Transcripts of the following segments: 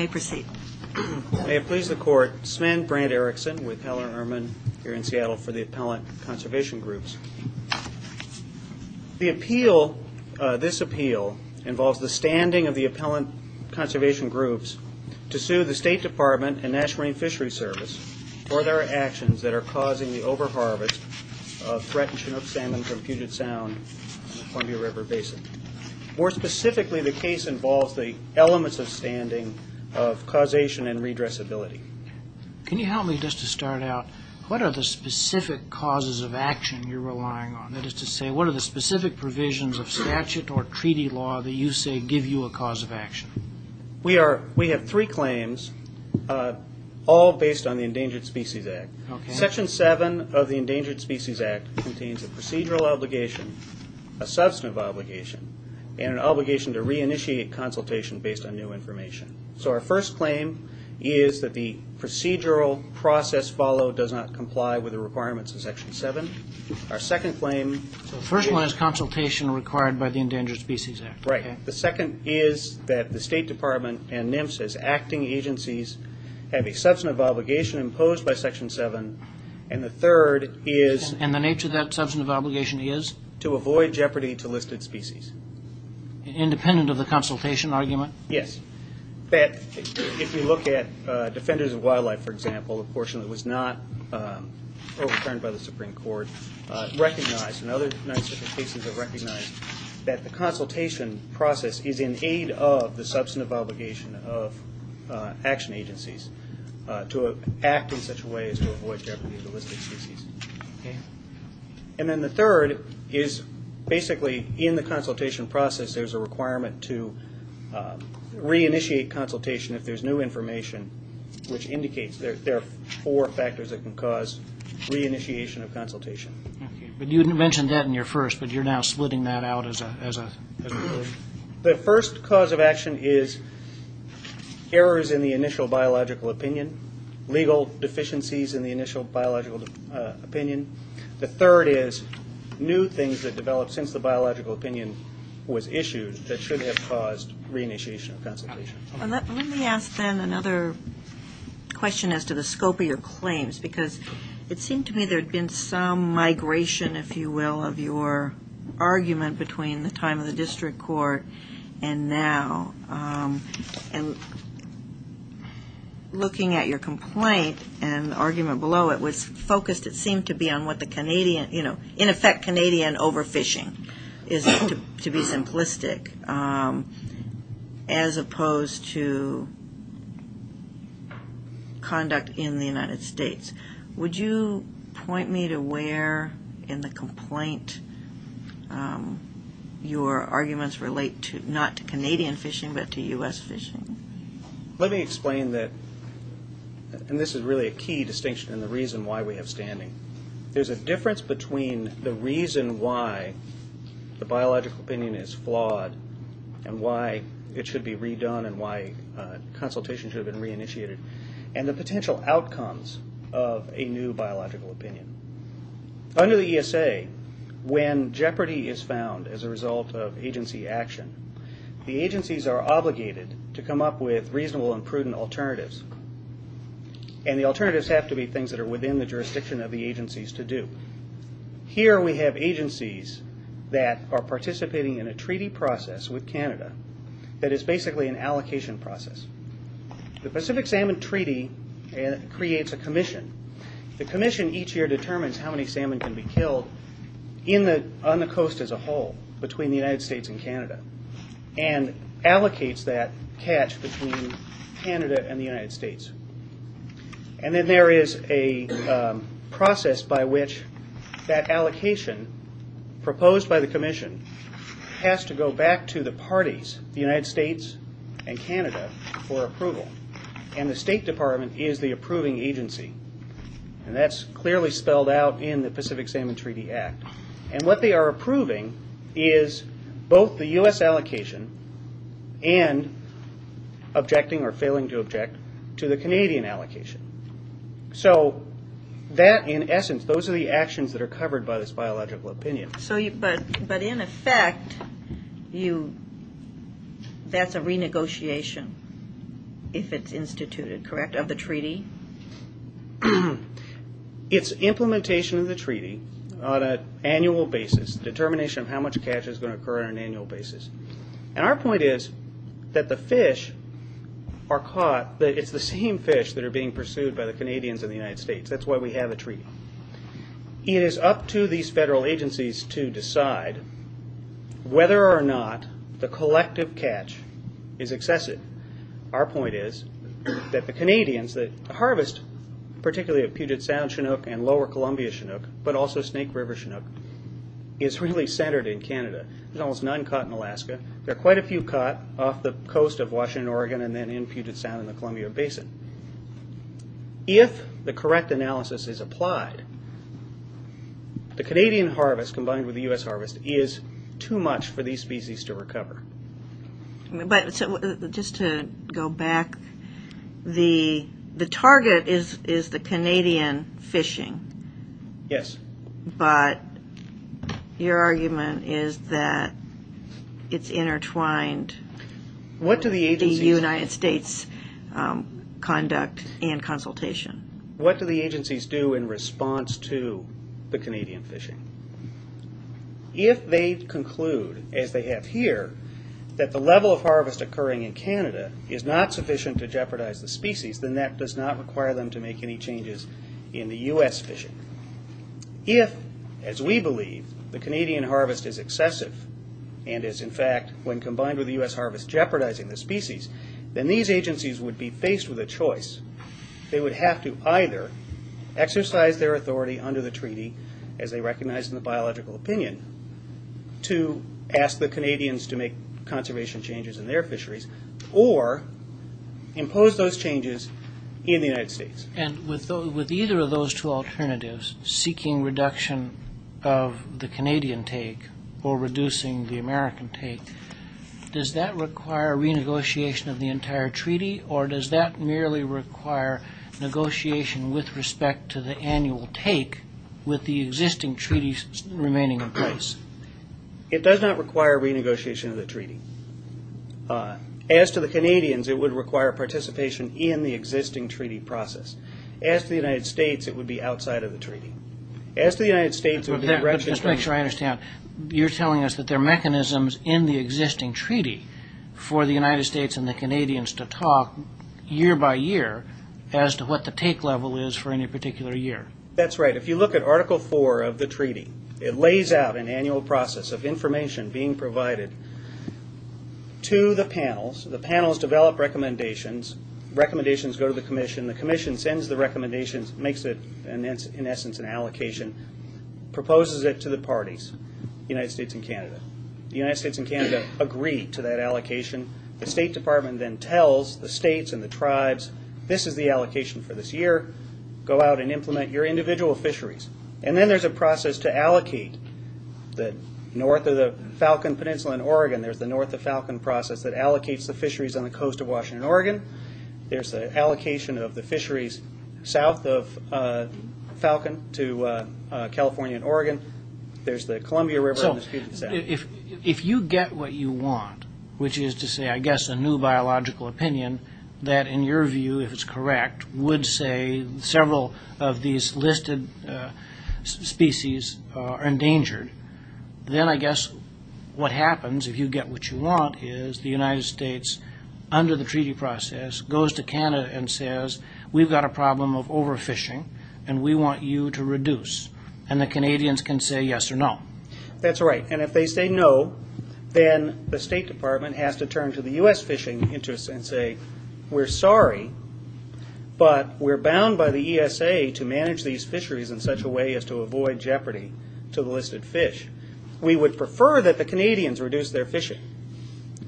May it please the Court, Sven Brand Erickson with Heller & Ehrman here in Seattle for the The appeal, this appeal, involves the standing of the appellant conservation groups to sue the State Department and National Marine Fisheries Service for their actions that are causing the over-harvest of threatened Chinook salmon from Puget Sound and the Columbia River Basin. More specifically, the case involves the elements of standing of causation and redressability. Can you help me just to start out, what are the specific causes of action you're relying on? That is to say, what are the specific provisions of statute or treaty law that you say give you a cause of action? We have three claims, all based on the Endangered Species Act. Section 7 of the Endangered Species Act contains a procedural obligation, a substantive obligation, and an obligation to reinitiate consultation based on new information. So our first claim is that the procedural process followed does not comply with the requirements of Section 7. Our second claim... The first one is consultation required by the Endangered Species Act. Right. The second is that the State Department and NMFSA's acting agencies have a substantive obligation imposed by Section 7. And the third is... And the nature of that substantive obligation is? To avoid jeopardy to listed species. Independent of the consultation argument? Yes. That if you look at Defenders of Wildlife, for example, a portion that was not overturned by the Supreme Court, recognized, and other cases have recognized, that the consultation process is in aid of the substantive obligation of action agencies to act in such a way as to avoid jeopardy to listed species. Okay. And then the third is basically, in the consultation process, there's a requirement to reinitiate consultation if there's new information, which indicates there are four factors that can cause reinitiation of consultation. Okay. But you mentioned that in your first, but you're now splitting that out as a group? The first cause of action is errors in the initial biological opinion, legal deficiencies in the initial biological opinion. The third is new things that develop since the biological opinion was issued that should have caused reinitiation of consultation. Let me ask then another question as to the scope of your claims, because it seemed to me there had been some migration, if you will, of your argument between the time of the district court and now. And looking at your complaint and the argument below, it was focused, it seemed to be, on what the Canadian, you know, in effect, Canadian overfishing is, to be simplistic, as opposed to conduct in the United States. Would you point me to where in the complaint your arguments relate to, not to Canadian fishing, but to U.S. fishing? Let me explain that, and this is really a key distinction in the reason why we have standing. There's a difference between the reason why the biological opinion is flawed and why it should be redone and why consultation should have been reinitiated, and the potential outcomes of a new biological opinion. Under the ESA, when jeopardy is found as a result of agency action, the agencies are obligated to come up with reasonable and prudent alternatives, and the alternatives have to be things that are within the jurisdiction of the agencies to do. Here we have agencies that are participating in a treaty process with Canada that is basically an allocation process. The Pacific Salmon Treaty creates a commission. The commission each year determines how many salmon can be killed on the coast as a whole, between the United States and Canada, and allocates that catch between Canada and the United States. Then there is a process by which that allocation proposed by the commission has to go back to the parties, the United States and Canada, for approval, and the State Department is the approving agency, and that's clearly spelled out in the Pacific Salmon Treaty Act. And what they are approving is both the U.S. allocation and objecting or failing to object to the Canadian allocation. So that, in essence, those are the actions that are covered by this biological opinion. But in effect, that's a renegotiation, if it's instituted, correct, of the treaty? It's implementation of the treaty on an annual basis, determination of how much catch is going to occur on an annual basis. And our point is that the fish are caught, it's the same fish that are being pursued by the Canadians in the United States. That's why we have a treaty. It is up to these federal agencies to decide whether or not the collective catch is excessive. Our point is that the Canadians, the harvest, particularly of Puget Sound Chinook and Lower Columbia Chinook, but also Snake River Chinook, is really centered in Canada. There's almost none caught in Alaska. There are quite a few caught off the coast of Washington, Oregon, and then in Puget Sound in the Columbia Basin. If the correct analysis is applied, the Canadian harvest combined with the U.S. harvest is too much for these species to recover. But just to go back, the target is the Canadian fishing. Yes. But your argument is that it's intertwined with the United States conduct and consultation. What do the agencies do in response to the Canadian fishing? If they conclude, as they have here, that the level of harvest occurring in Canada is not sufficient to jeopardize the species, then that does not require them to make any changes in the U.S. fishing. If, as we believe, the Canadian harvest is excessive, and is in fact, when combined with the U.S. harvest, jeopardizing the species, then these agencies would be faced with a choice. They would have to either exercise their authority under the treaty, as they recognize in the biological opinion, to ask the Canadians to make conservation changes in their fisheries, or impose those changes in the United States. With either of those two alternatives, seeking reduction of the Canadian take, or reducing the American take, does that require renegotiation of the entire treaty? Or does that merely require negotiation with respect to the annual take, with the existing treaties remaining in place? It does not require renegotiation of the treaty. As to the Canadians, it would require participation in the existing treaty process. As to the United States, it would be outside of the treaty. You're telling us that there are mechanisms in the existing treaty for the United States and the Canadians to talk year by year, as to what the take level is for any particular year. That's right. If you look at Article 4 of the treaty, it lays out an annual process of information being provided to the panels. The panels develop recommendations, recommendations go to the commission, the commission sends the recommendations, makes it in essence an allocation, proposes it to the parties, the United States and Canada. The United States and Canada agree to that allocation. The State Department then tells the states and the tribes, this is the allocation for this year, go out and implement your individual fisheries. Then there's a process to allocate. North of the Falcon Peninsula in Oregon, there's the North of Falcon process that allocates the fisheries on the coast of Washington, Oregon. There's the allocation of the fisheries south of Falcon to California and Oregon. There's the Columbia River. If you get what you want, which is to say I guess a new biological opinion that in your view, if it's correct, would say several of these listed species are endangered, then I guess what happens if you get what you want is the United States, under the treaty process, goes to Canada and says, we've got a problem of overfishing and we want you to reduce. And the Canadians can say yes or no. That's right. And if they say no, then the State Department has to turn to the U.S. fishing interests and say, we're sorry, but we're bound by the ESA to manage these fisheries in such a way as to avoid jeopardy to the listed fish. We would prefer that the Canadians reduce their fishing,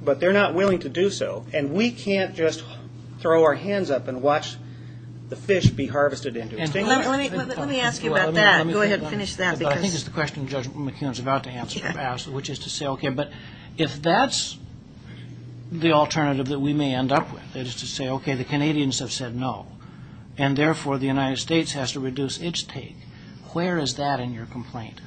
but they're not willing to do so. And we can't just throw our hands up and watch the fish be harvested. Let me ask you about that. Go ahead and finish that. I think it's the question Judge McKeown is about to ask, which is to say, okay, but if that's the alternative that we may end up with, it is to say, okay, the Canadians have said no, and therefore the United States has to reduce its take. Where is that in your complaint?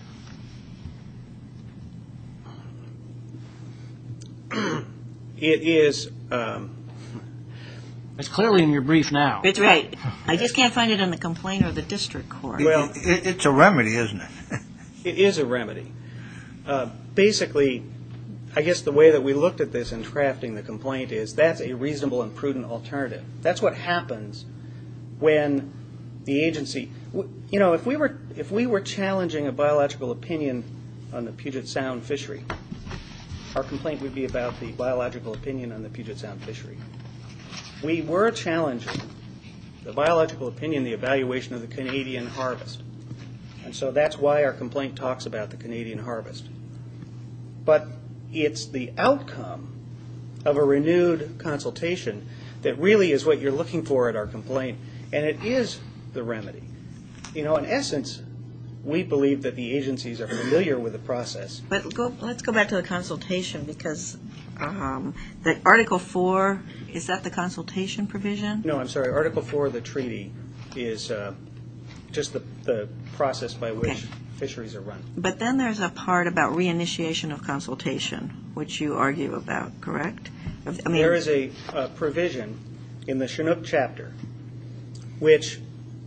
It is clearly in your brief now. That's right. I just can't find it in the complaint or the district court. It's a remedy, isn't it? It is a remedy. Basically, I guess the way that we looked at this in drafting the complaint is that's a reasonable and prudent alternative. That's what happens when the agency, you know, if we were challenging a biological opinion on the Puget Sound fishery, our complaint would be about the biological opinion on the Puget Sound fishery. We were challenging the biological opinion, the evaluation of the Canadian harvest, and so that's why our complaint talks about the Canadian harvest. But it's the outcome of a renewed consultation that really is what you're looking for in our complaint, and it is the remedy. You know, in essence, we believe that the agencies are familiar with the process. But let's go back to the consultation because the Article 4, is that the consultation provision? No, I'm sorry. Article 4 of the treaty is just the process by which fisheries are run. But then there's a part about re-initiation of consultation, which you argue about, correct? There is a provision in the Chinook chapter which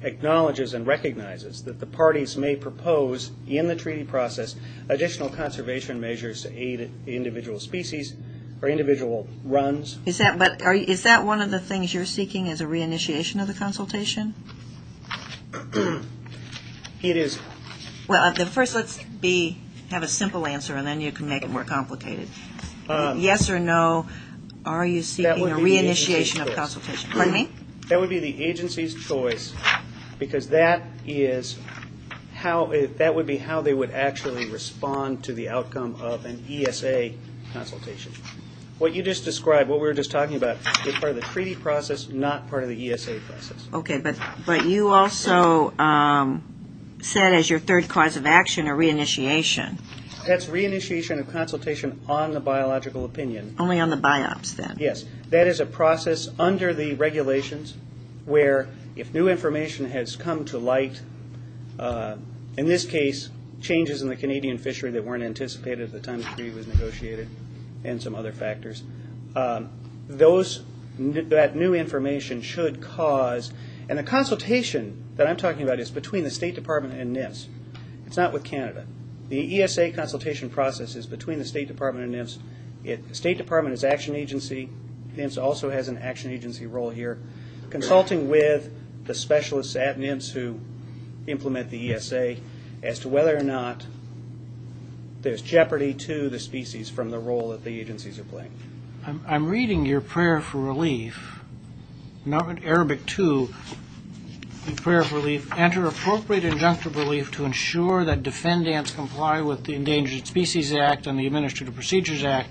acknowledges and recognizes that the parties may propose in the treaty process additional conservation measures to aid individual species or individual runs. Is that one of the things you're seeking is a re-initiation of the consultation? It is. Well, first let's have a simple answer and then you can make it more complicated. Yes or no, are you seeking a re-initiation of consultation? That would be the agency's choice because that would be how they would actually respond to the outcome of an ESA consultation. What you just described, what we were just talking about, is part of the treaty process, not part of the ESA process. Okay, but you also said as your third cause of action a re-initiation. That's re-initiation of consultation on the biological opinion. There are regulations where if new information has come to light, in this case changes in the Canadian fishery that weren't anticipated at the time the treaty was negotiated and some other factors, that new information should cause, and the consultation that I'm talking about is between the State Department and NIPS. It's not with Canada. The ESA consultation process is between the State Department and NIPS. The State Department is an action agency. NIPS also has an action agency role here. Consulting with the specialists at NIPS who implement the ESA as to whether or not there's jeopardy to the species from the role that the agencies are playing. I'm reading your prayer for relief. In Arabic 2, in prayer for relief, enter appropriate injunctive relief to ensure that defendants comply with the Endangered Species Act and the Administrative Procedures Act.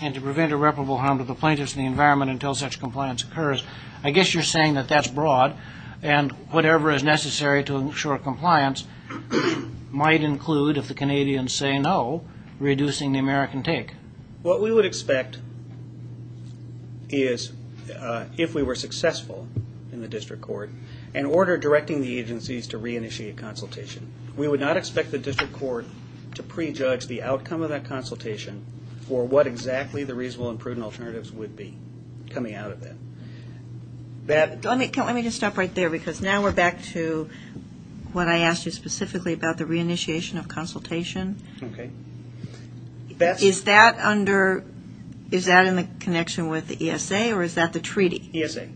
And to prevent irreparable harm to the plaintiffs and the environment until such compliance occurs. I guess you're saying that that's broad and whatever is necessary to ensure compliance might include, if the Canadians say no, reducing the American take. What we would expect is if we were successful in the district court in order of directing the agencies to re-initiate consultation, we would not expect the district court to prejudge the outcome of that consultation for what exactly the reasonable and prudent alternatives would be coming out of it. Let me just stop right there because now we're back to what I asked you specifically about the re-initiation of consultation. Is that in the connection with the ESA or is that the treaty? ESA,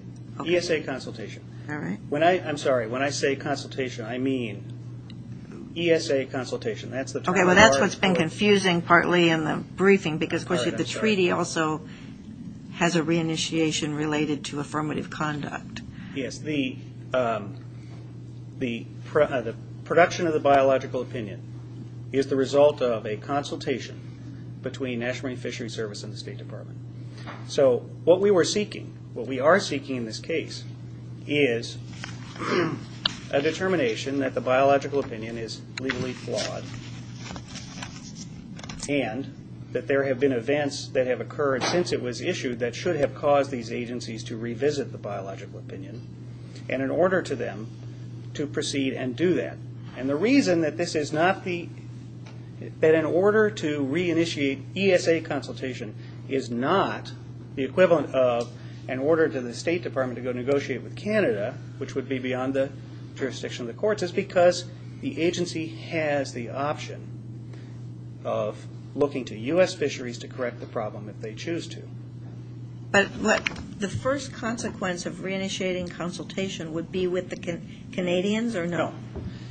ESA consultation. I'm sorry, when I say consultation I mean ESA consultation. That's what's been confusing partly in the briefing because the treaty also has a re-initiation related to affirmative conduct. Yes, the production of the biological opinion is the result of a consultation between National Marine Fisheries Service and the State Department. So what we were seeking, what we are seeking in this case is a determination that the biological opinion is legally flawed and that there have been events that have occurred since it was issued that should have caused these agencies to revisit the biological opinion and in order to them to proceed and do that. And the reason that this is not the, that in order to re-initiate ESA consultation is not the equivalent of an order to the State Department to go negotiate with Canada which would be beyond the jurisdiction of the courts is because the agency has the option of looking to U.S. fisheries to correct the problem if they choose to. But the first consequence of re-initiating consultation would be with the Canadians or no?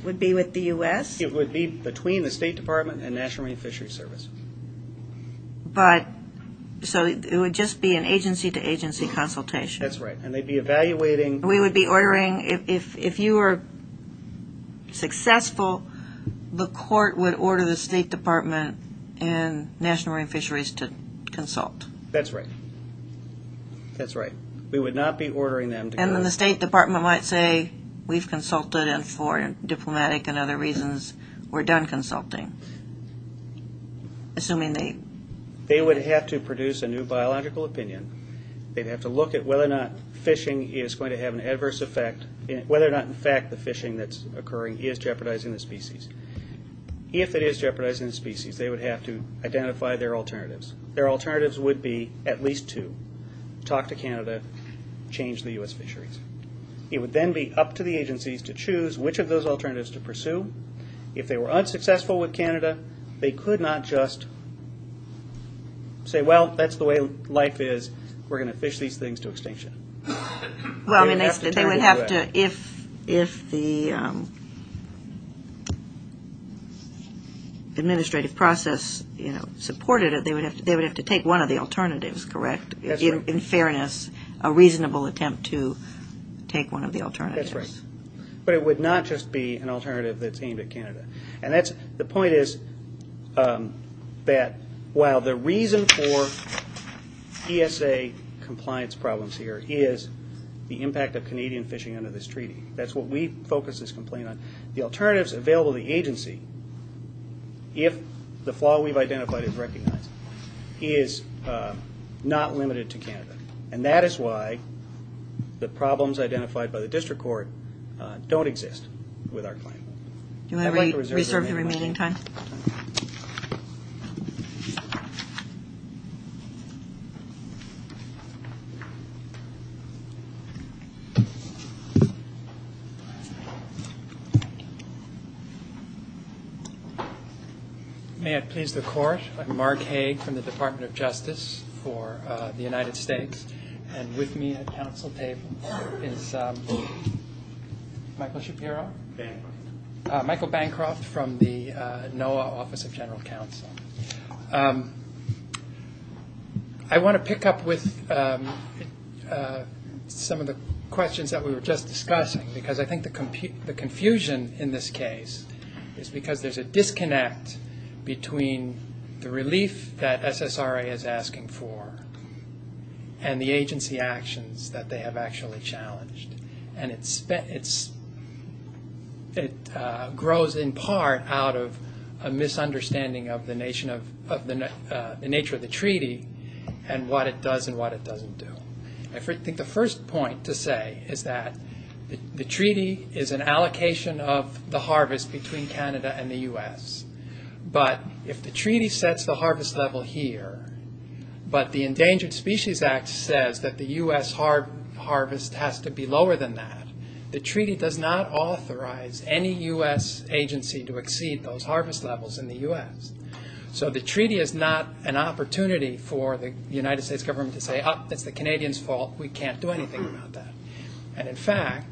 Would be with the U.S.? It would be between the State Department and National Marine Fisheries Service. But, so it would just be an agency to agency consultation? That's right and they'd be evaluating... We would be ordering, if you were successful, the court would order the State Department and National Marine Fisheries to consult? That's right. That's right. We would not be ordering them to go... And the State Department might say, we've consulted and for diplomatic and other reasons, we're done consulting. Assuming they... They would have to produce a new biological opinion. They'd have to look at whether or not fishing is going to have an adverse effect, whether or not in fact the fishing that's occurring is jeopardizing the species. If it is jeopardizing the species, they would have to identify their alternatives. Their alternatives would be at least to talk to Canada, change the U.S. fisheries. It would then be up to the agencies to choose which of those alternatives to pursue. If they were unsuccessful with Canada, they could not just say, well, that's the way life is. We're going to fish these things to extinction. Well, they would have to, if the administrative process supported it, they would have to take one of the alternatives, correct? In fairness, a reasonable attempt to take one of the alternatives. That's right. But it would not just be an alternative that's aimed at Canada. And that's... The point is that while the reason for ESA compliance problems here is the impact of Canadian fishing under this treaty. That's what we focus this complaint on. The alternatives available to the agency, if the flaw we've identified is recognized, is not limited to Canada. And that is why the problems identified by the district court don't exist with our claim. Do I reserve the remaining time? Thank you. May it please the court. I'm Mark Hague from the Department of Justice for the United States. And with me at council table is Michael Shapiro. Michael Bancroft from the NOAA Office of General Counsel. I want to pick up with some of the questions that we were just discussing. Because I think the confusion in this case is because there's a disconnect between the relief that SSRA is asking for and the agency actions that they have actually challenged. And it grows in part out of a misunderstanding of the nature of the treaty and what it does and what it doesn't do. I think the first point to say is that the treaty is an allocation of the harvest between Canada and the U.S. But if the treaty sets the harvest level here, but the Endangered Species Act says that the U.S. harvest has to be lower than Canada, the treaty does not authorize any U.S. agency to exceed those harvest levels in the U.S. So the treaty is not an opportunity for the United States government to say, oh, it's the Canadians' fault, we can't do anything about that. And in fact,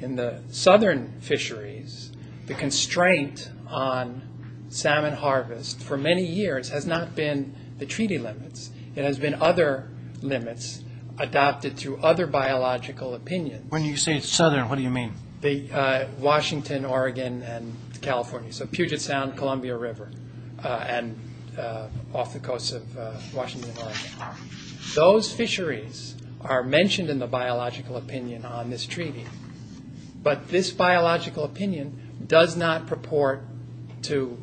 in the southern fisheries, the constraint on salmon harvest for many years has not been the treaty limits. It has been other limits adopted through other biological opinions. When you say southern, what do you mean? Washington, Oregon, and California. So Puget Sound, Columbia River, and off the coast of Washington, Oregon. Those fisheries are mentioned in the biological opinion on this treaty, but this biological opinion does not purport to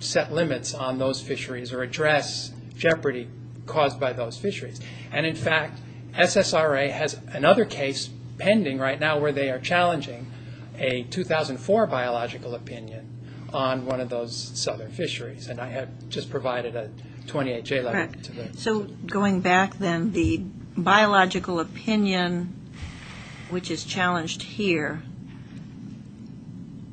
set limits on those fisheries or address jeopardy caused by those fisheries. And in fact, SSRA has another case pending right now where they are challenging a 2004 biological opinion on one of those southern fisheries. And I have just provided a 28-J letter. So going back then, the biological opinion which is challenged here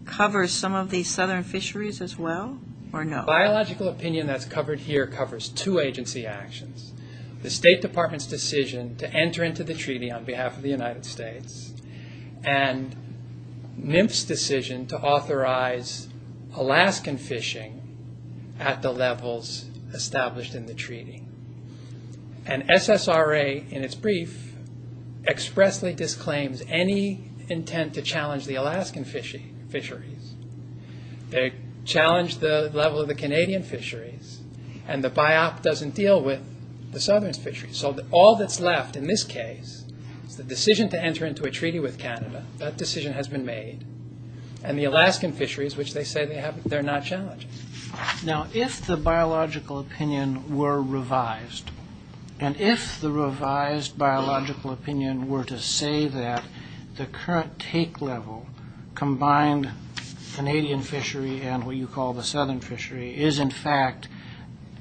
covers some of these southern fisheries as well, or no? Well, the biological opinion that's covered here covers two agency actions. The State Department's decision to enter into the treaty on behalf of the United States, and NIMF's decision to authorize Alaskan fishing at the levels established in the treaty. And SSRA, in its brief, expressly disclaims any intent to challenge the Alaskan fisheries. They challenge the level of the Canadian fisheries, and the BIOP doesn't deal with the southern fisheries. So all that's left in this case is the decision to enter into a treaty with Canada. That decision has been made, and the Alaskan fisheries, which they say they're not challenging. Now, if the biological opinion were revised, and if the revised biological opinion were to say that the current take level combined with the current level, the Canadian fishery and what you call the southern fishery, is in fact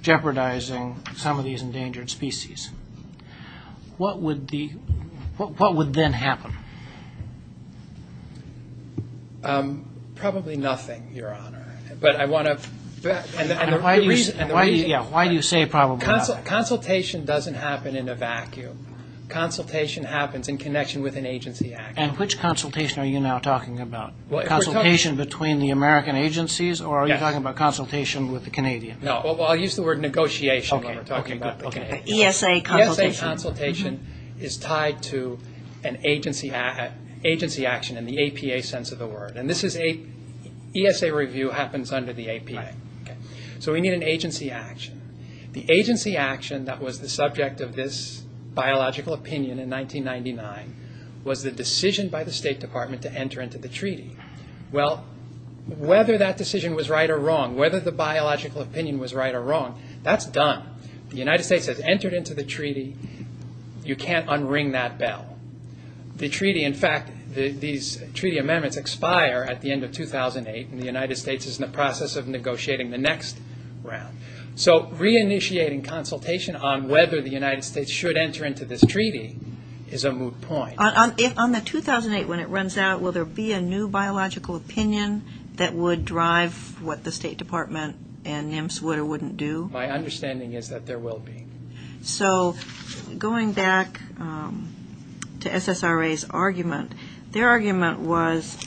jeopardizing some of these endangered species, what would then happen? Probably nothing, Your Honor, but I want to... Why do you say probably nothing? Consultation doesn't happen in a vacuum. Consultation happens in connection with an agency action. And which consultation are you now talking about? Consultation between the American agencies, or are you talking about consultation with the Canadians? Well, I'll use the word negotiation when we're talking about the Canadians. ESA consultation is tied to an agency action in the APA sense of the word. And ESA review happens under the APA. So we need an agency action. The agency action that was the subject of this biological opinion in 1999 was the decision by the State Department to enter into the treaty. Well, whether that decision was right or wrong, whether the biological opinion was right or wrong, that's done. The United States has entered into the treaty. You can't unring that bell. The treaty, in fact, these treaty amendments expire at the end of 2008, and the United States is in the process of negotiating the next one. So reinitiating consultation on whether the United States should enter into this treaty is a moot point. On the 2008 when it runs out, will there be a new biological opinion that would drive what the State Department and NIMS would or wouldn't do? My understanding is that there will be. So going back to SSRA's argument, their argument was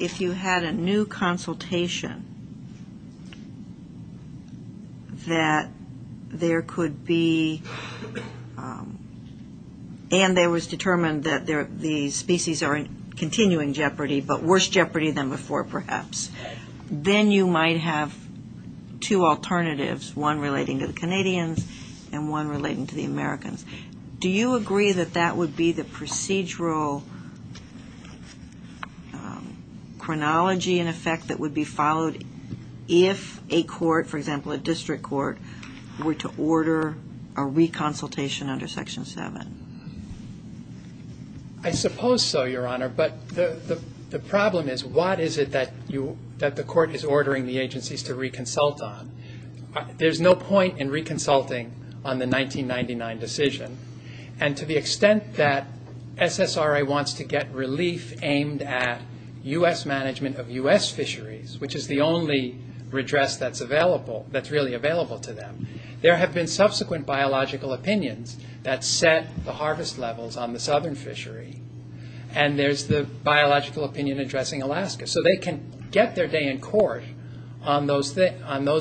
if you had a new consultation, that there could be, and it was determined that the species are in continuing jeopardy, but worse jeopardy than before, perhaps. Then you might have two alternatives, one relating to the Canadians and one relating to the Americans. Do you agree that that would be the procedural chronology in effect that would be followed if a question was asked, for example, a district court were to order a reconsultation under Section 7? I suppose so, Your Honor, but the problem is what is it that the court is ordering the agencies to reconsult on? There's no point in reconsulting on the 1999 decision, and to the extent that SSRA wants to get relief aimed at U.S. management of U.S. fisheries, which is the only redress that's really available to them. There have been subsequent biological opinions that set the harvest levels on the southern fishery, and there's the biological opinion addressing Alaska, so they can get their day in court on those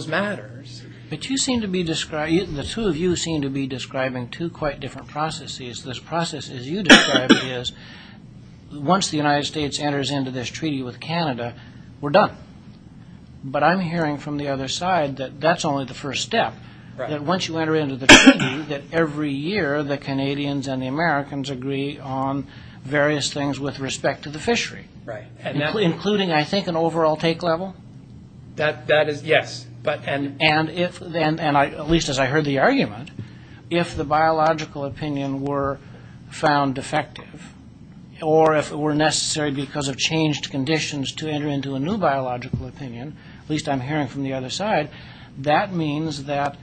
matters. But you seem to be describing, the two of you seem to be describing two quite different processes. This process, as you described, is once the United States enters into this treaty with Canada, we're done. But I'm hearing from the other side that that's only the first step, that once you enter into the treaty, that every year the Canadians and the Americans agree on various things with respect to the fishery, including, I think, an overall take level? That is, yes. And at least as I heard the argument, if the biological opinion were found defective, or if it were necessary because of changed conditions to enter into a new biological opinion, at least I'm hearing from the other side, that means that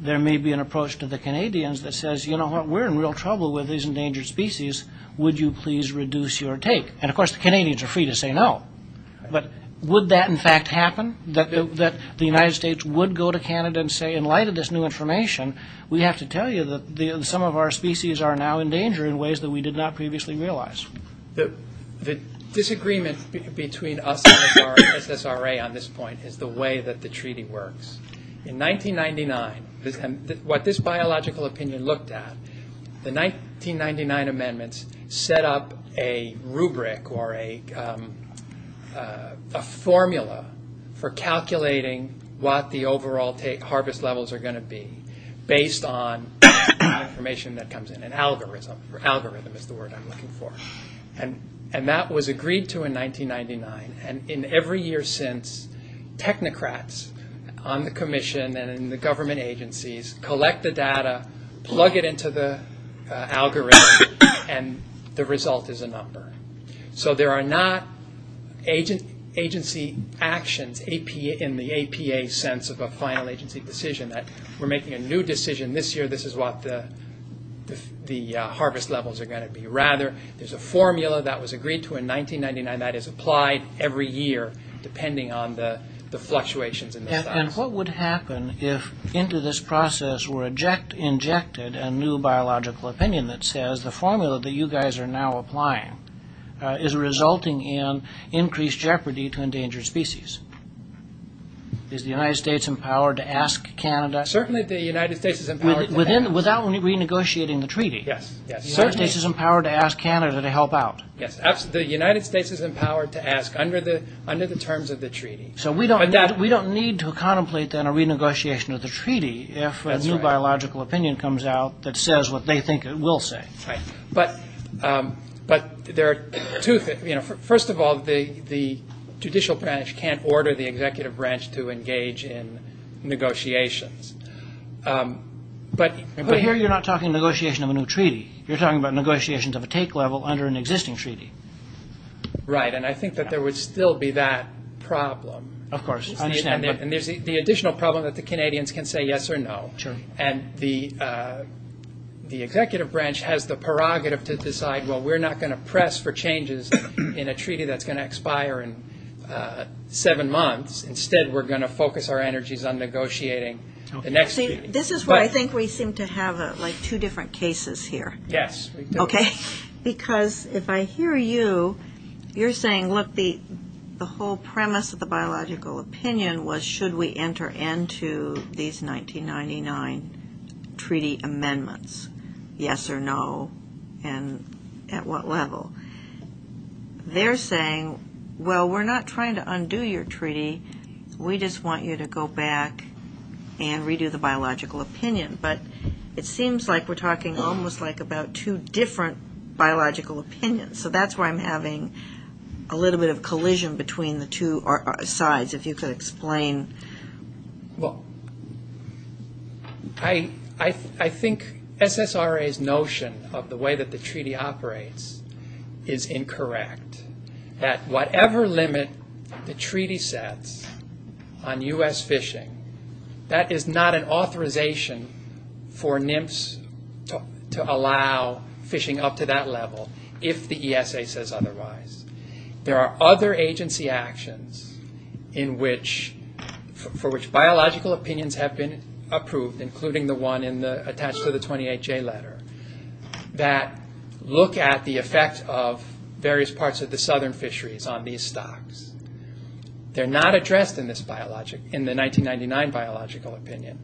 there may be an approach to the Canadians that says, you know what, we're in real trouble with these endangered species, would you please reduce your take? And of course the Canadians are free to say no, but would that in fact happen? That the United States would go to Canada and say, in light of this new information, we have to tell you that some of our species are now endangered in ways that we did not previously realize? The disagreement between us and the SSRA on this point is the way that the treaty works. In 1999, what this biological opinion looked at, the 1999 amendments set up a rubric or a formula for calculating what the overall harvest levels are going to be, based on information that comes in, an algorithm, algorithm is the word I'm looking for. And that was agreed to in 1999, and in every year since, technocrats on the commission and in the government agencies collect the data, plug it into the algorithm, and the result is a number. So there are not agency actions in the APA sense of a final agency decision, that we're making a new decision this year, this is what the harvest levels are going to be. Rather, there's a formula that was agreed to in 1999 that is applied every year, depending on the fluctuations in the size. And what would happen if into this process were injected a new biological opinion that says the formula that you guys are now applying is resulting in increased jeopardy to endangered species? Is the United States empowered to ask Canada? Certainly the United States is empowered to ask. Without renegotiating the treaty? Yes. The United States is empowered to ask under the terms of the treaty. So we don't need to contemplate then a renegotiation of the treaty if a new biological opinion comes out that says what they think it will say. First of all, the judicial branch can't order the executive branch to engage in negotiations. But here you're not talking negotiation of a new treaty, you're talking about negotiations of a take level under an existing treaty. Right, and I think that there would still be that problem. And there's the additional problem that the Canadians can say yes or no. And the executive branch has the prerogative to decide, well, we're not going to press for changes in a treaty that's going to expire in seven months. Instead, we're going to focus our energies on negotiating the next treaty. This is why I think we seem to have two different cases here. Because if I hear you, you're saying, look, the whole premise of the biological opinion was, should we enter into these 1999 treaty amendments, yes or no, and at what level. They're saying, well, we're not trying to undo your treaty, we just want you to go back and redo the biological opinion. But it seems like we're talking almost like about two different biological opinions. So that's why I'm having a little bit of collision between the two sides. If you could explain. I think SSRA's notion of the way that the treaty operates is incorrect. At whatever limit the treaty sets on U.S. fishing, that is not an authorization for NIMFS to allow fishing up to that level, if the ESA says otherwise. There are other agency actions for which biological opinions have been approved, including the one attached to the 28J letter, that look at the effect of various parts of the southern fisheries on these stocks. They're not addressed in the 1999 biological opinion.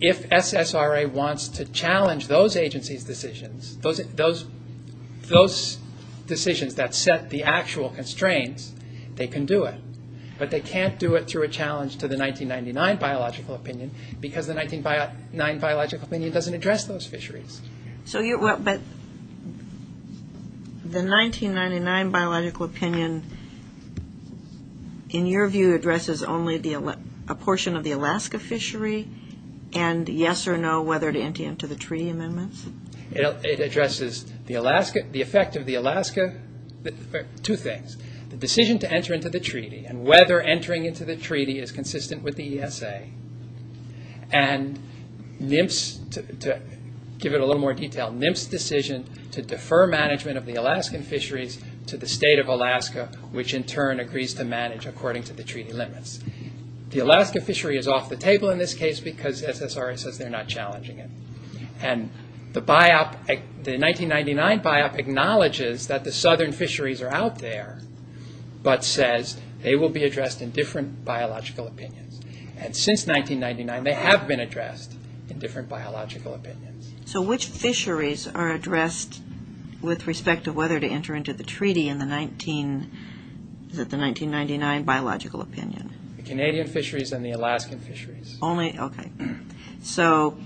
If SSRA wants to challenge those agencies' decisions, those decisions that set the actual constraints, they can do it. But they can't do it through a challenge to the 1999 biological opinion, because the 1999 biological opinion doesn't address those fisheries. The 1999 biological opinion, in your view, addresses only a portion of the Alaska fishery, and yes or no whether to enter into the treaty amendments? It addresses the effect of the Alaska, two things. The decision to enter into the treaty, and whether entering into the treaty is consistent with the ESA. And NIMFS, to give it a little more detail, NIMFS decision to defer management of the Alaskan fisheries to the state of Alaska, which in turn agrees to manage according to the treaty limits. The Alaska fishery is off the table in this case, because SSRA says they're not challenging it. And the 1999 biop acknowledges that the southern fisheries are out there, but says they will be addressed in different biological opinions. And since 1999, they have been addressed in different biological opinions. So which fisheries are addressed with respect to whether to enter into the treaty in the 1999 biological opinion? The Canadian fisheries and the Alaskan fisheries. So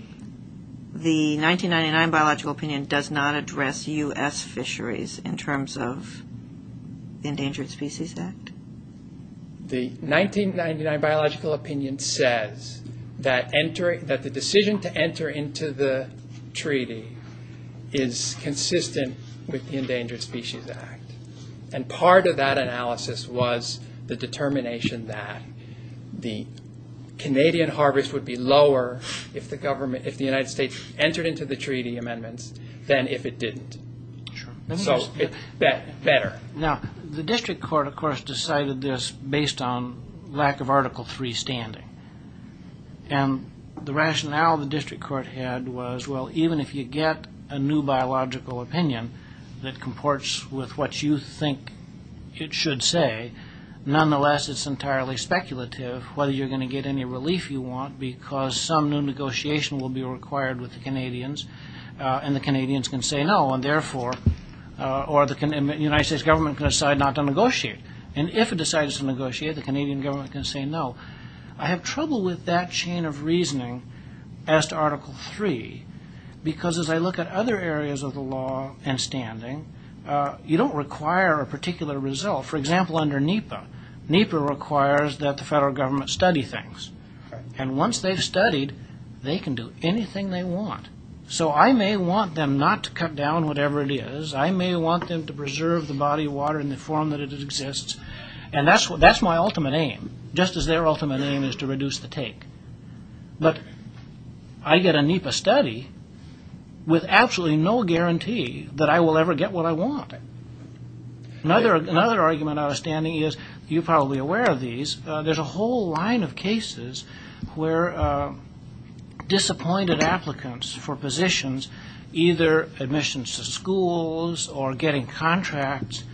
the 1999 biological opinion does not address U.S. fisheries in terms of the Endangered Species Act? The 1999 biological opinion says that the decision to enter into the treaty is consistent with the Endangered Species Act. And part of that analysis was the determination that the Canadian harvest would be lower if the United States entered into the treaty amendments than if it didn't. So it's better. Now, the district court, of course, decided this based on lack of Article III standing. And the rationale the district court had was, well, even if you get a new biological opinion that comports with what you think it should say, nonetheless it's entirely speculative whether you're going to get any relief you want, because some new negotiation will be required with the Canadians, and the Canadians can say no, or the United States government can decide not to negotiate. And if it decides to negotiate, the Canadian government can say no. I have trouble with that chain of reasoning as to Article III, because as I look at other areas of the law and standing, you don't require a particular result. For example, under NEPA, NEPA requires that the federal government study things. And once they've studied, they can do anything they want. So I may want them not to cut down whatever it is. I may want them to preserve the body of water in the form that it exists. And that's my ultimate aim, just as their ultimate aim is to reduce the take. But I get a NEPA study with absolutely no guarantee that I will ever get what I want. Another argument out of standing is, you're probably aware of these, there's a whole line of cases where disappointed applicants for positions, either admissions to schools or getting contracts,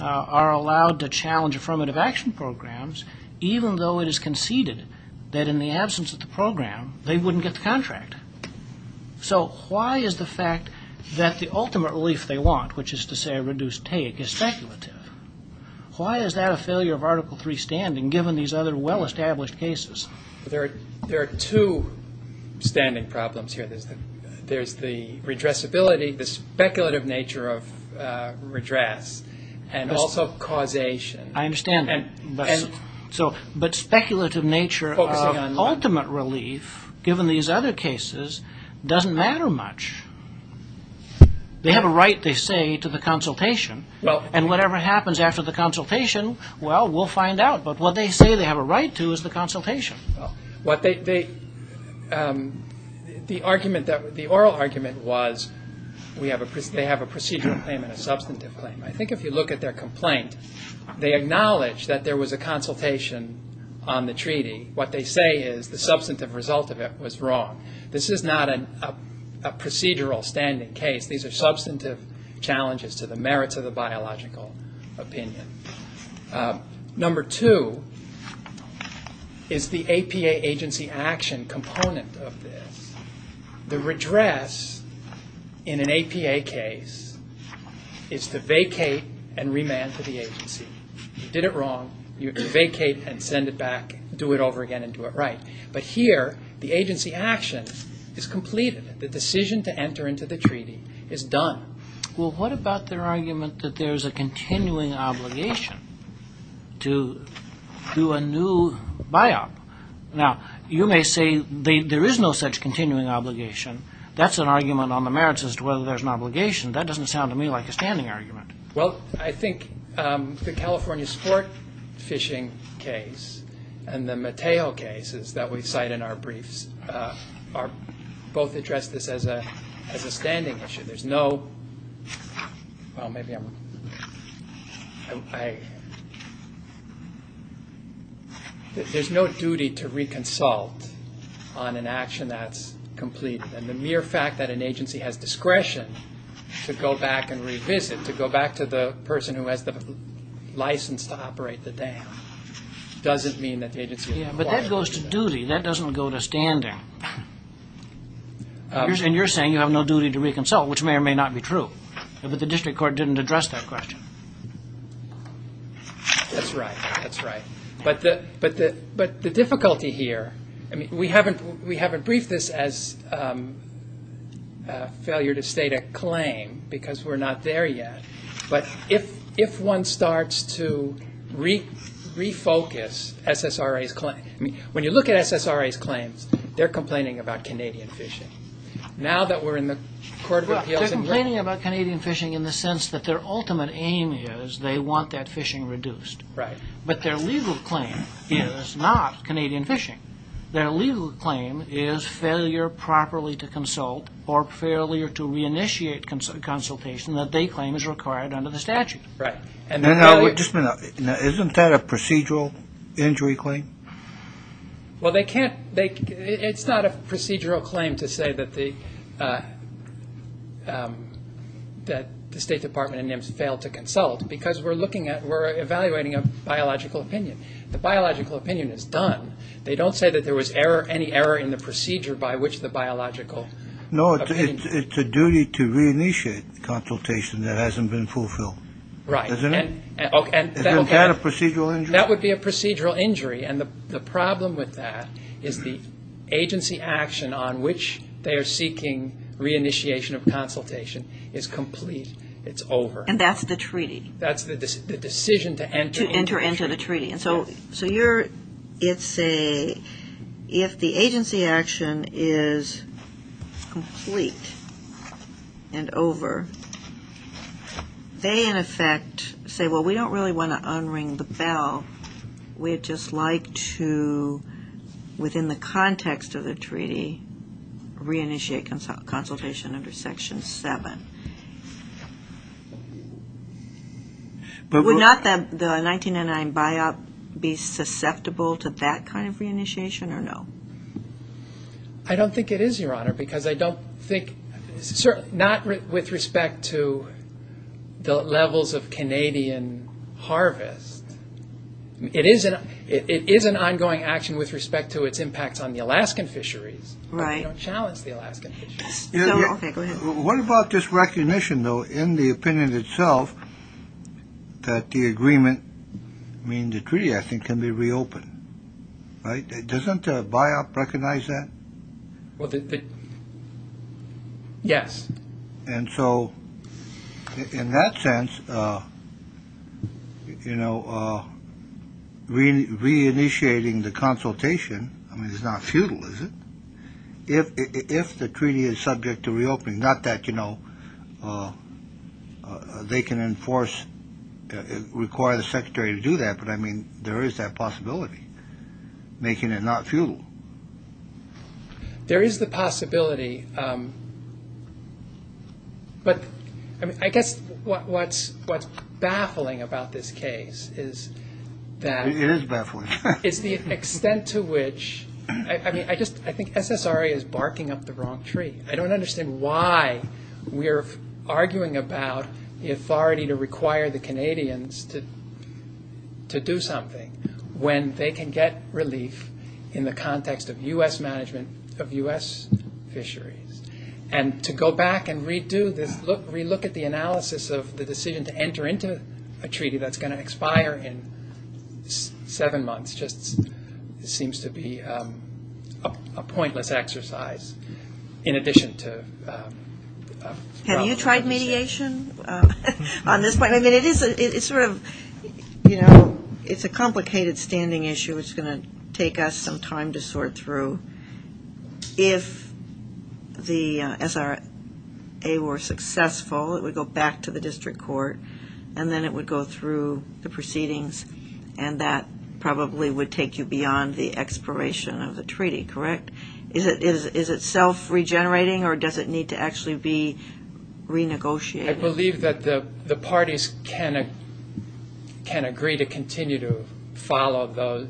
are allowed to challenge affirmative action programs, even though it is conceded that in the absence of the program, they wouldn't get the contract. So why is the fact that the ultimate relief they want, which is to say reduce take, is speculative? Why is that a failure of Article III standing, given these other well-established cases? There are two standing problems here. There's the redressability, the speculative nature of redress, and also causation. I understand that. But speculative nature of ultimate relief, given these other cases, doesn't matter much. They have a right, they say, to the consultation. And whatever happens after the consultation, well, we'll find out. But what they say they have a right to is the consultation. The oral argument was they have a procedural claim and a substantive claim. I think if you look at their complaint, they acknowledge that there was a consultation on the treaty. What they say is the substantive result of it was wrong. This is not a procedural standing case. These are substantive challenges to the merits of the biological opinion. Number two is the APA agency action component of this. The redress in an APA case is to vacate and remand to the agency. You did it wrong, you vacate and send it back, do it over again and do it right. But here, the agency action is completed. The decision to enter into the treaty is done. Well, what about their argument that there's a continuing obligation to do a new biop? Now, you may say there is no such continuing obligation. That's an argument on the merits as to whether there's an obligation. That doesn't sound to me like a standing argument. Well, I think the California sport fishing case and the Mateo cases that we cite in our briefs, both address this as a standing issue. There's no duty to reconsult on an action that's completed. And the mere fact that an agency has discretion to go back and revisit, to go back to the person who has the license to operate the dam, doesn't mean that the agency requires it. And you're saying you have no duty to reconsult, which may or may not be true. But the district court didn't address that question. That's right. But the difficulty here, we haven't briefed this as a failure to state a claim, because we're not there yet. But if one starts to refocus SSRA's claim, when you look at SSRA's claims, they're complaining about Canadian fishing. They're complaining about Canadian fishing in the sense that their ultimate aim is they want that fishing reduced. But their legal claim is not Canadian fishing. Their legal claim is failure properly to consult or failure to reinitiate consultation that they claim is required under the statute. Isn't that a procedural injury claim? Well, it's not a procedural claim to say that the State Department and NIMS failed to consult, because we're evaluating a biological opinion. The biological opinion is done. They don't say that there was any error in the procedure by which the biological opinion was done. Isn't that a procedural injury? That would be a procedural injury. And the problem with that is the agency action on which they are seeking reinitiation of consultation is complete. It's over. And that's the treaty. That's the decision to enter into the treaty. If the agency action is complete and over, they, in effect, say, well, we don't really want to unring the bell. We'd just like to, within the context of the treaty, reinitiate consultation under Section 7. Would not the 1999 biop be susceptible to that kind of reinitiation or no? I don't think it is, Your Honor, because I don't think, not with respect to the levels of Canadian harvest. It is an ongoing action with respect to its impact on the Alaskan fisheries. Right. What about this recognition, though, in the opinion itself, that the agreement, I mean, the treaty, I think, can be reopened. Doesn't the biop recognize that? Yes. And so, in that sense, reinitiating the consultation is not futile, is it? If the treaty is subject to reopening, not that they can enforce, require the secretary to do that, but, I mean, there is that possibility, making it not futile. There is the possibility. But, I mean, I guess what's baffling about this case is that it's the extent to which, I mean, I think SSRA is barking up the wrong tree. I don't understand why we're arguing about the authority to require the Canadians to do something when they can get relief in the context of U.S. management of U.S. fisheries. And to go back and re-do this, re-look at the analysis of the decision to enter into a treaty that's going to expire in seven months just seems to be a pointless exercise in addition to... Have you tried mediation on this point? I mean, it is sort of, you know, it's a complicated standing issue. It's going to take us some time to sort through. If the SRA were successful, it would go back to the district court and then it would go through the proceedings and that probably would take you beyond the expiration of the treaty, correct? Is it self-regenerating or does it need to actually be renegotiated? I believe that the parties can agree to continue to follow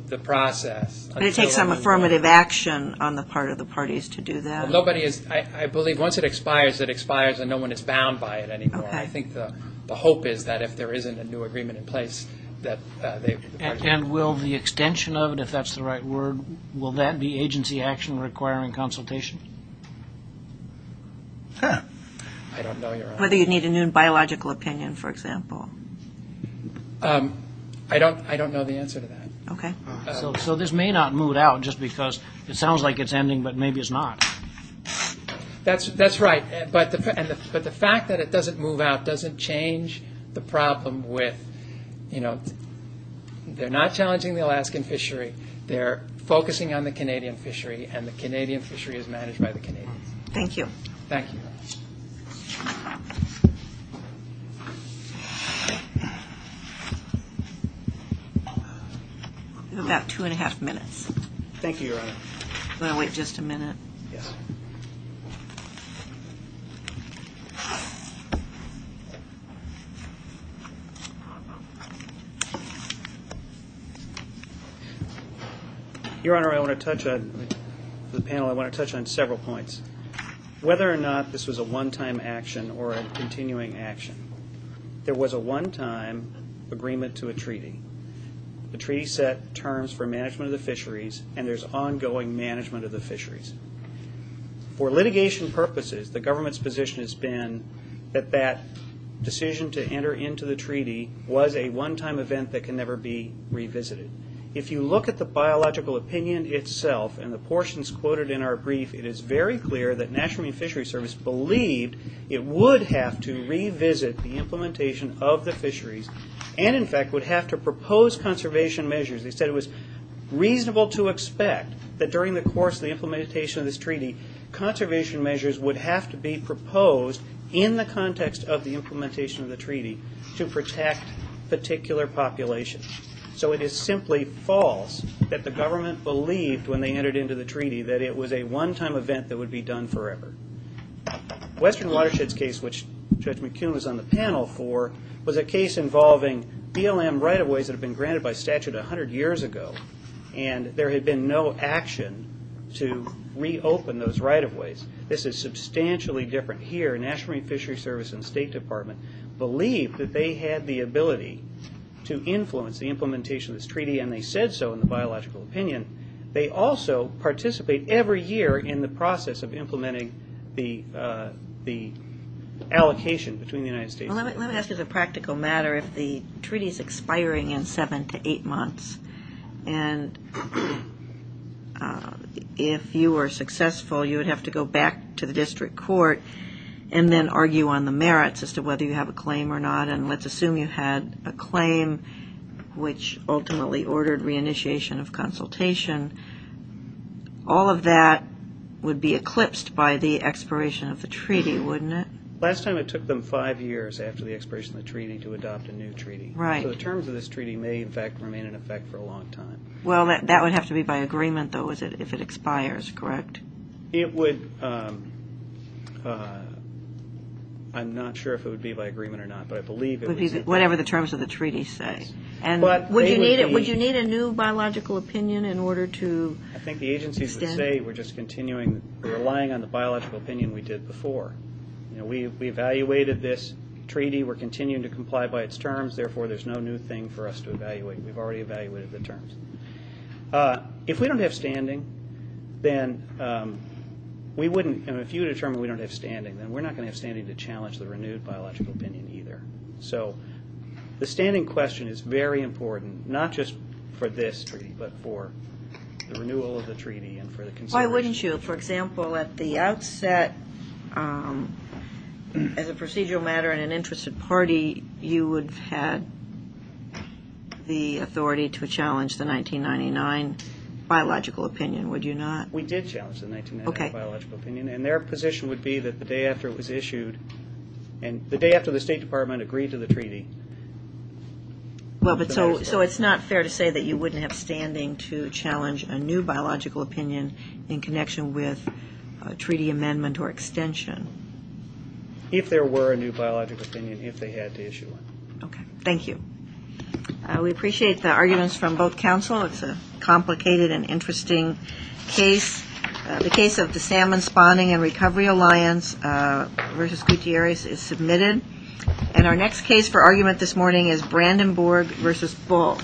the process But it takes some affirmative action on the part of the parties to do that. Nobody is... I believe once it expires, it expires and no one is bound by it anymore. I think the hope is that if there isn't a new agreement in place that they... And will the extension of it, if that's the right word, will that be agency action requiring consultation? I don't know your answer. Whether you need a new biological opinion, for example. I don't know the answer to that. So this may not move out just because it sounds like it's ending but maybe it's not. That's right, but the fact that it doesn't move out doesn't change the problem with, you know, they're not challenging the Alaskan fishery, they're focusing on the Canadian fishery and the Canadian fishery is managed by the Canadians. You have about two and a half minutes. Thank you, Your Honor. Your Honor, I want to touch on several points. Whether or not this was a one-time action or a continuing action, there was a one-time agreement to a treaty. The treaty set terms for management of the fisheries and there's ongoing management of the fisheries. For litigation purposes, the government's position has been that that decision to enter into the treaty was a one-time event that can never be revisited. If you look at the biological opinion itself and the portions quoted in our brief, it is very clear that National Marine Fisheries Service believed it would have to revisit the implementation of the fisheries and in fact would have to propose conservation measures. They said it was reasonable to expect that during the course of the implementation of this treaty, conservation measures would have to be proposed in the context of the implementation of the treaty to protect particular populations. So it is simply false that the government believed when they entered into the treaty that it was a one-time event that would be done forever. Western Watershed's case, which Judge McCune was on the panel for, was a case involving BLM right-of-ways that had been granted by statute 100 years ago and there had been no action to reopen those right-of-ways. This is substantially different here. National Marine Fisheries Service and the State Department believed that they had the ability to influence the implementation of this treaty and they said so in the biological opinion. They also participate every year in the process of implementing the allocation between the United States. Let me ask you as a practical matter if the treaty is expiring in seven to eight months and if you are successful you would have to go back to the district court and then argue on the merits as to whether you have a claim or not and let's assume you had a claim which ultimately ordered reinitiation of consultation. All of that would be eclipsed by the expiration of the treaty, wouldn't it? Last time it took them five years after the expiration of the treaty to adopt a new treaty. So the terms of this treaty may in fact remain in effect for a long time. That would have to be by agreement though if it expires, correct? I'm not sure if it would be by agreement or not. Whatever the terms of the treaty say. Would you need a new biological opinion in order to extend it? I think the agencies would say we're just relying on the biological opinion we did before. We evaluated this treaty. We're continuing to comply by its terms. Therefore there's no new thing for us to evaluate. We've already evaluated the terms. If you determine we don't have standing then we're not going to have standing to challenge the renewed biological opinion either. So the standing question is very important not just for this treaty but for the renewal of the treaty and for the consensus. Why wouldn't you? For example at the outset as a procedural matter in an interested party you would have had the authority to challenge the 1999 biological opinion, would you not? We did challenge the 1999 biological opinion and their position would be that the day after it was issued and the day after the State Department agreed to the treaty. So it's not fair to say that you wouldn't have standing to challenge a new biological opinion in connection with a treaty amendment or extension? If there were a new biological opinion, if they had to issue one. Thank you. We appreciate the arguments from both counsel. It's a complicated and interesting case. The case of the Salmon Spawning and Recovery Alliance versus Gutierrez is submitted. And our next case for argument this morning is Brandenburg versus Bull.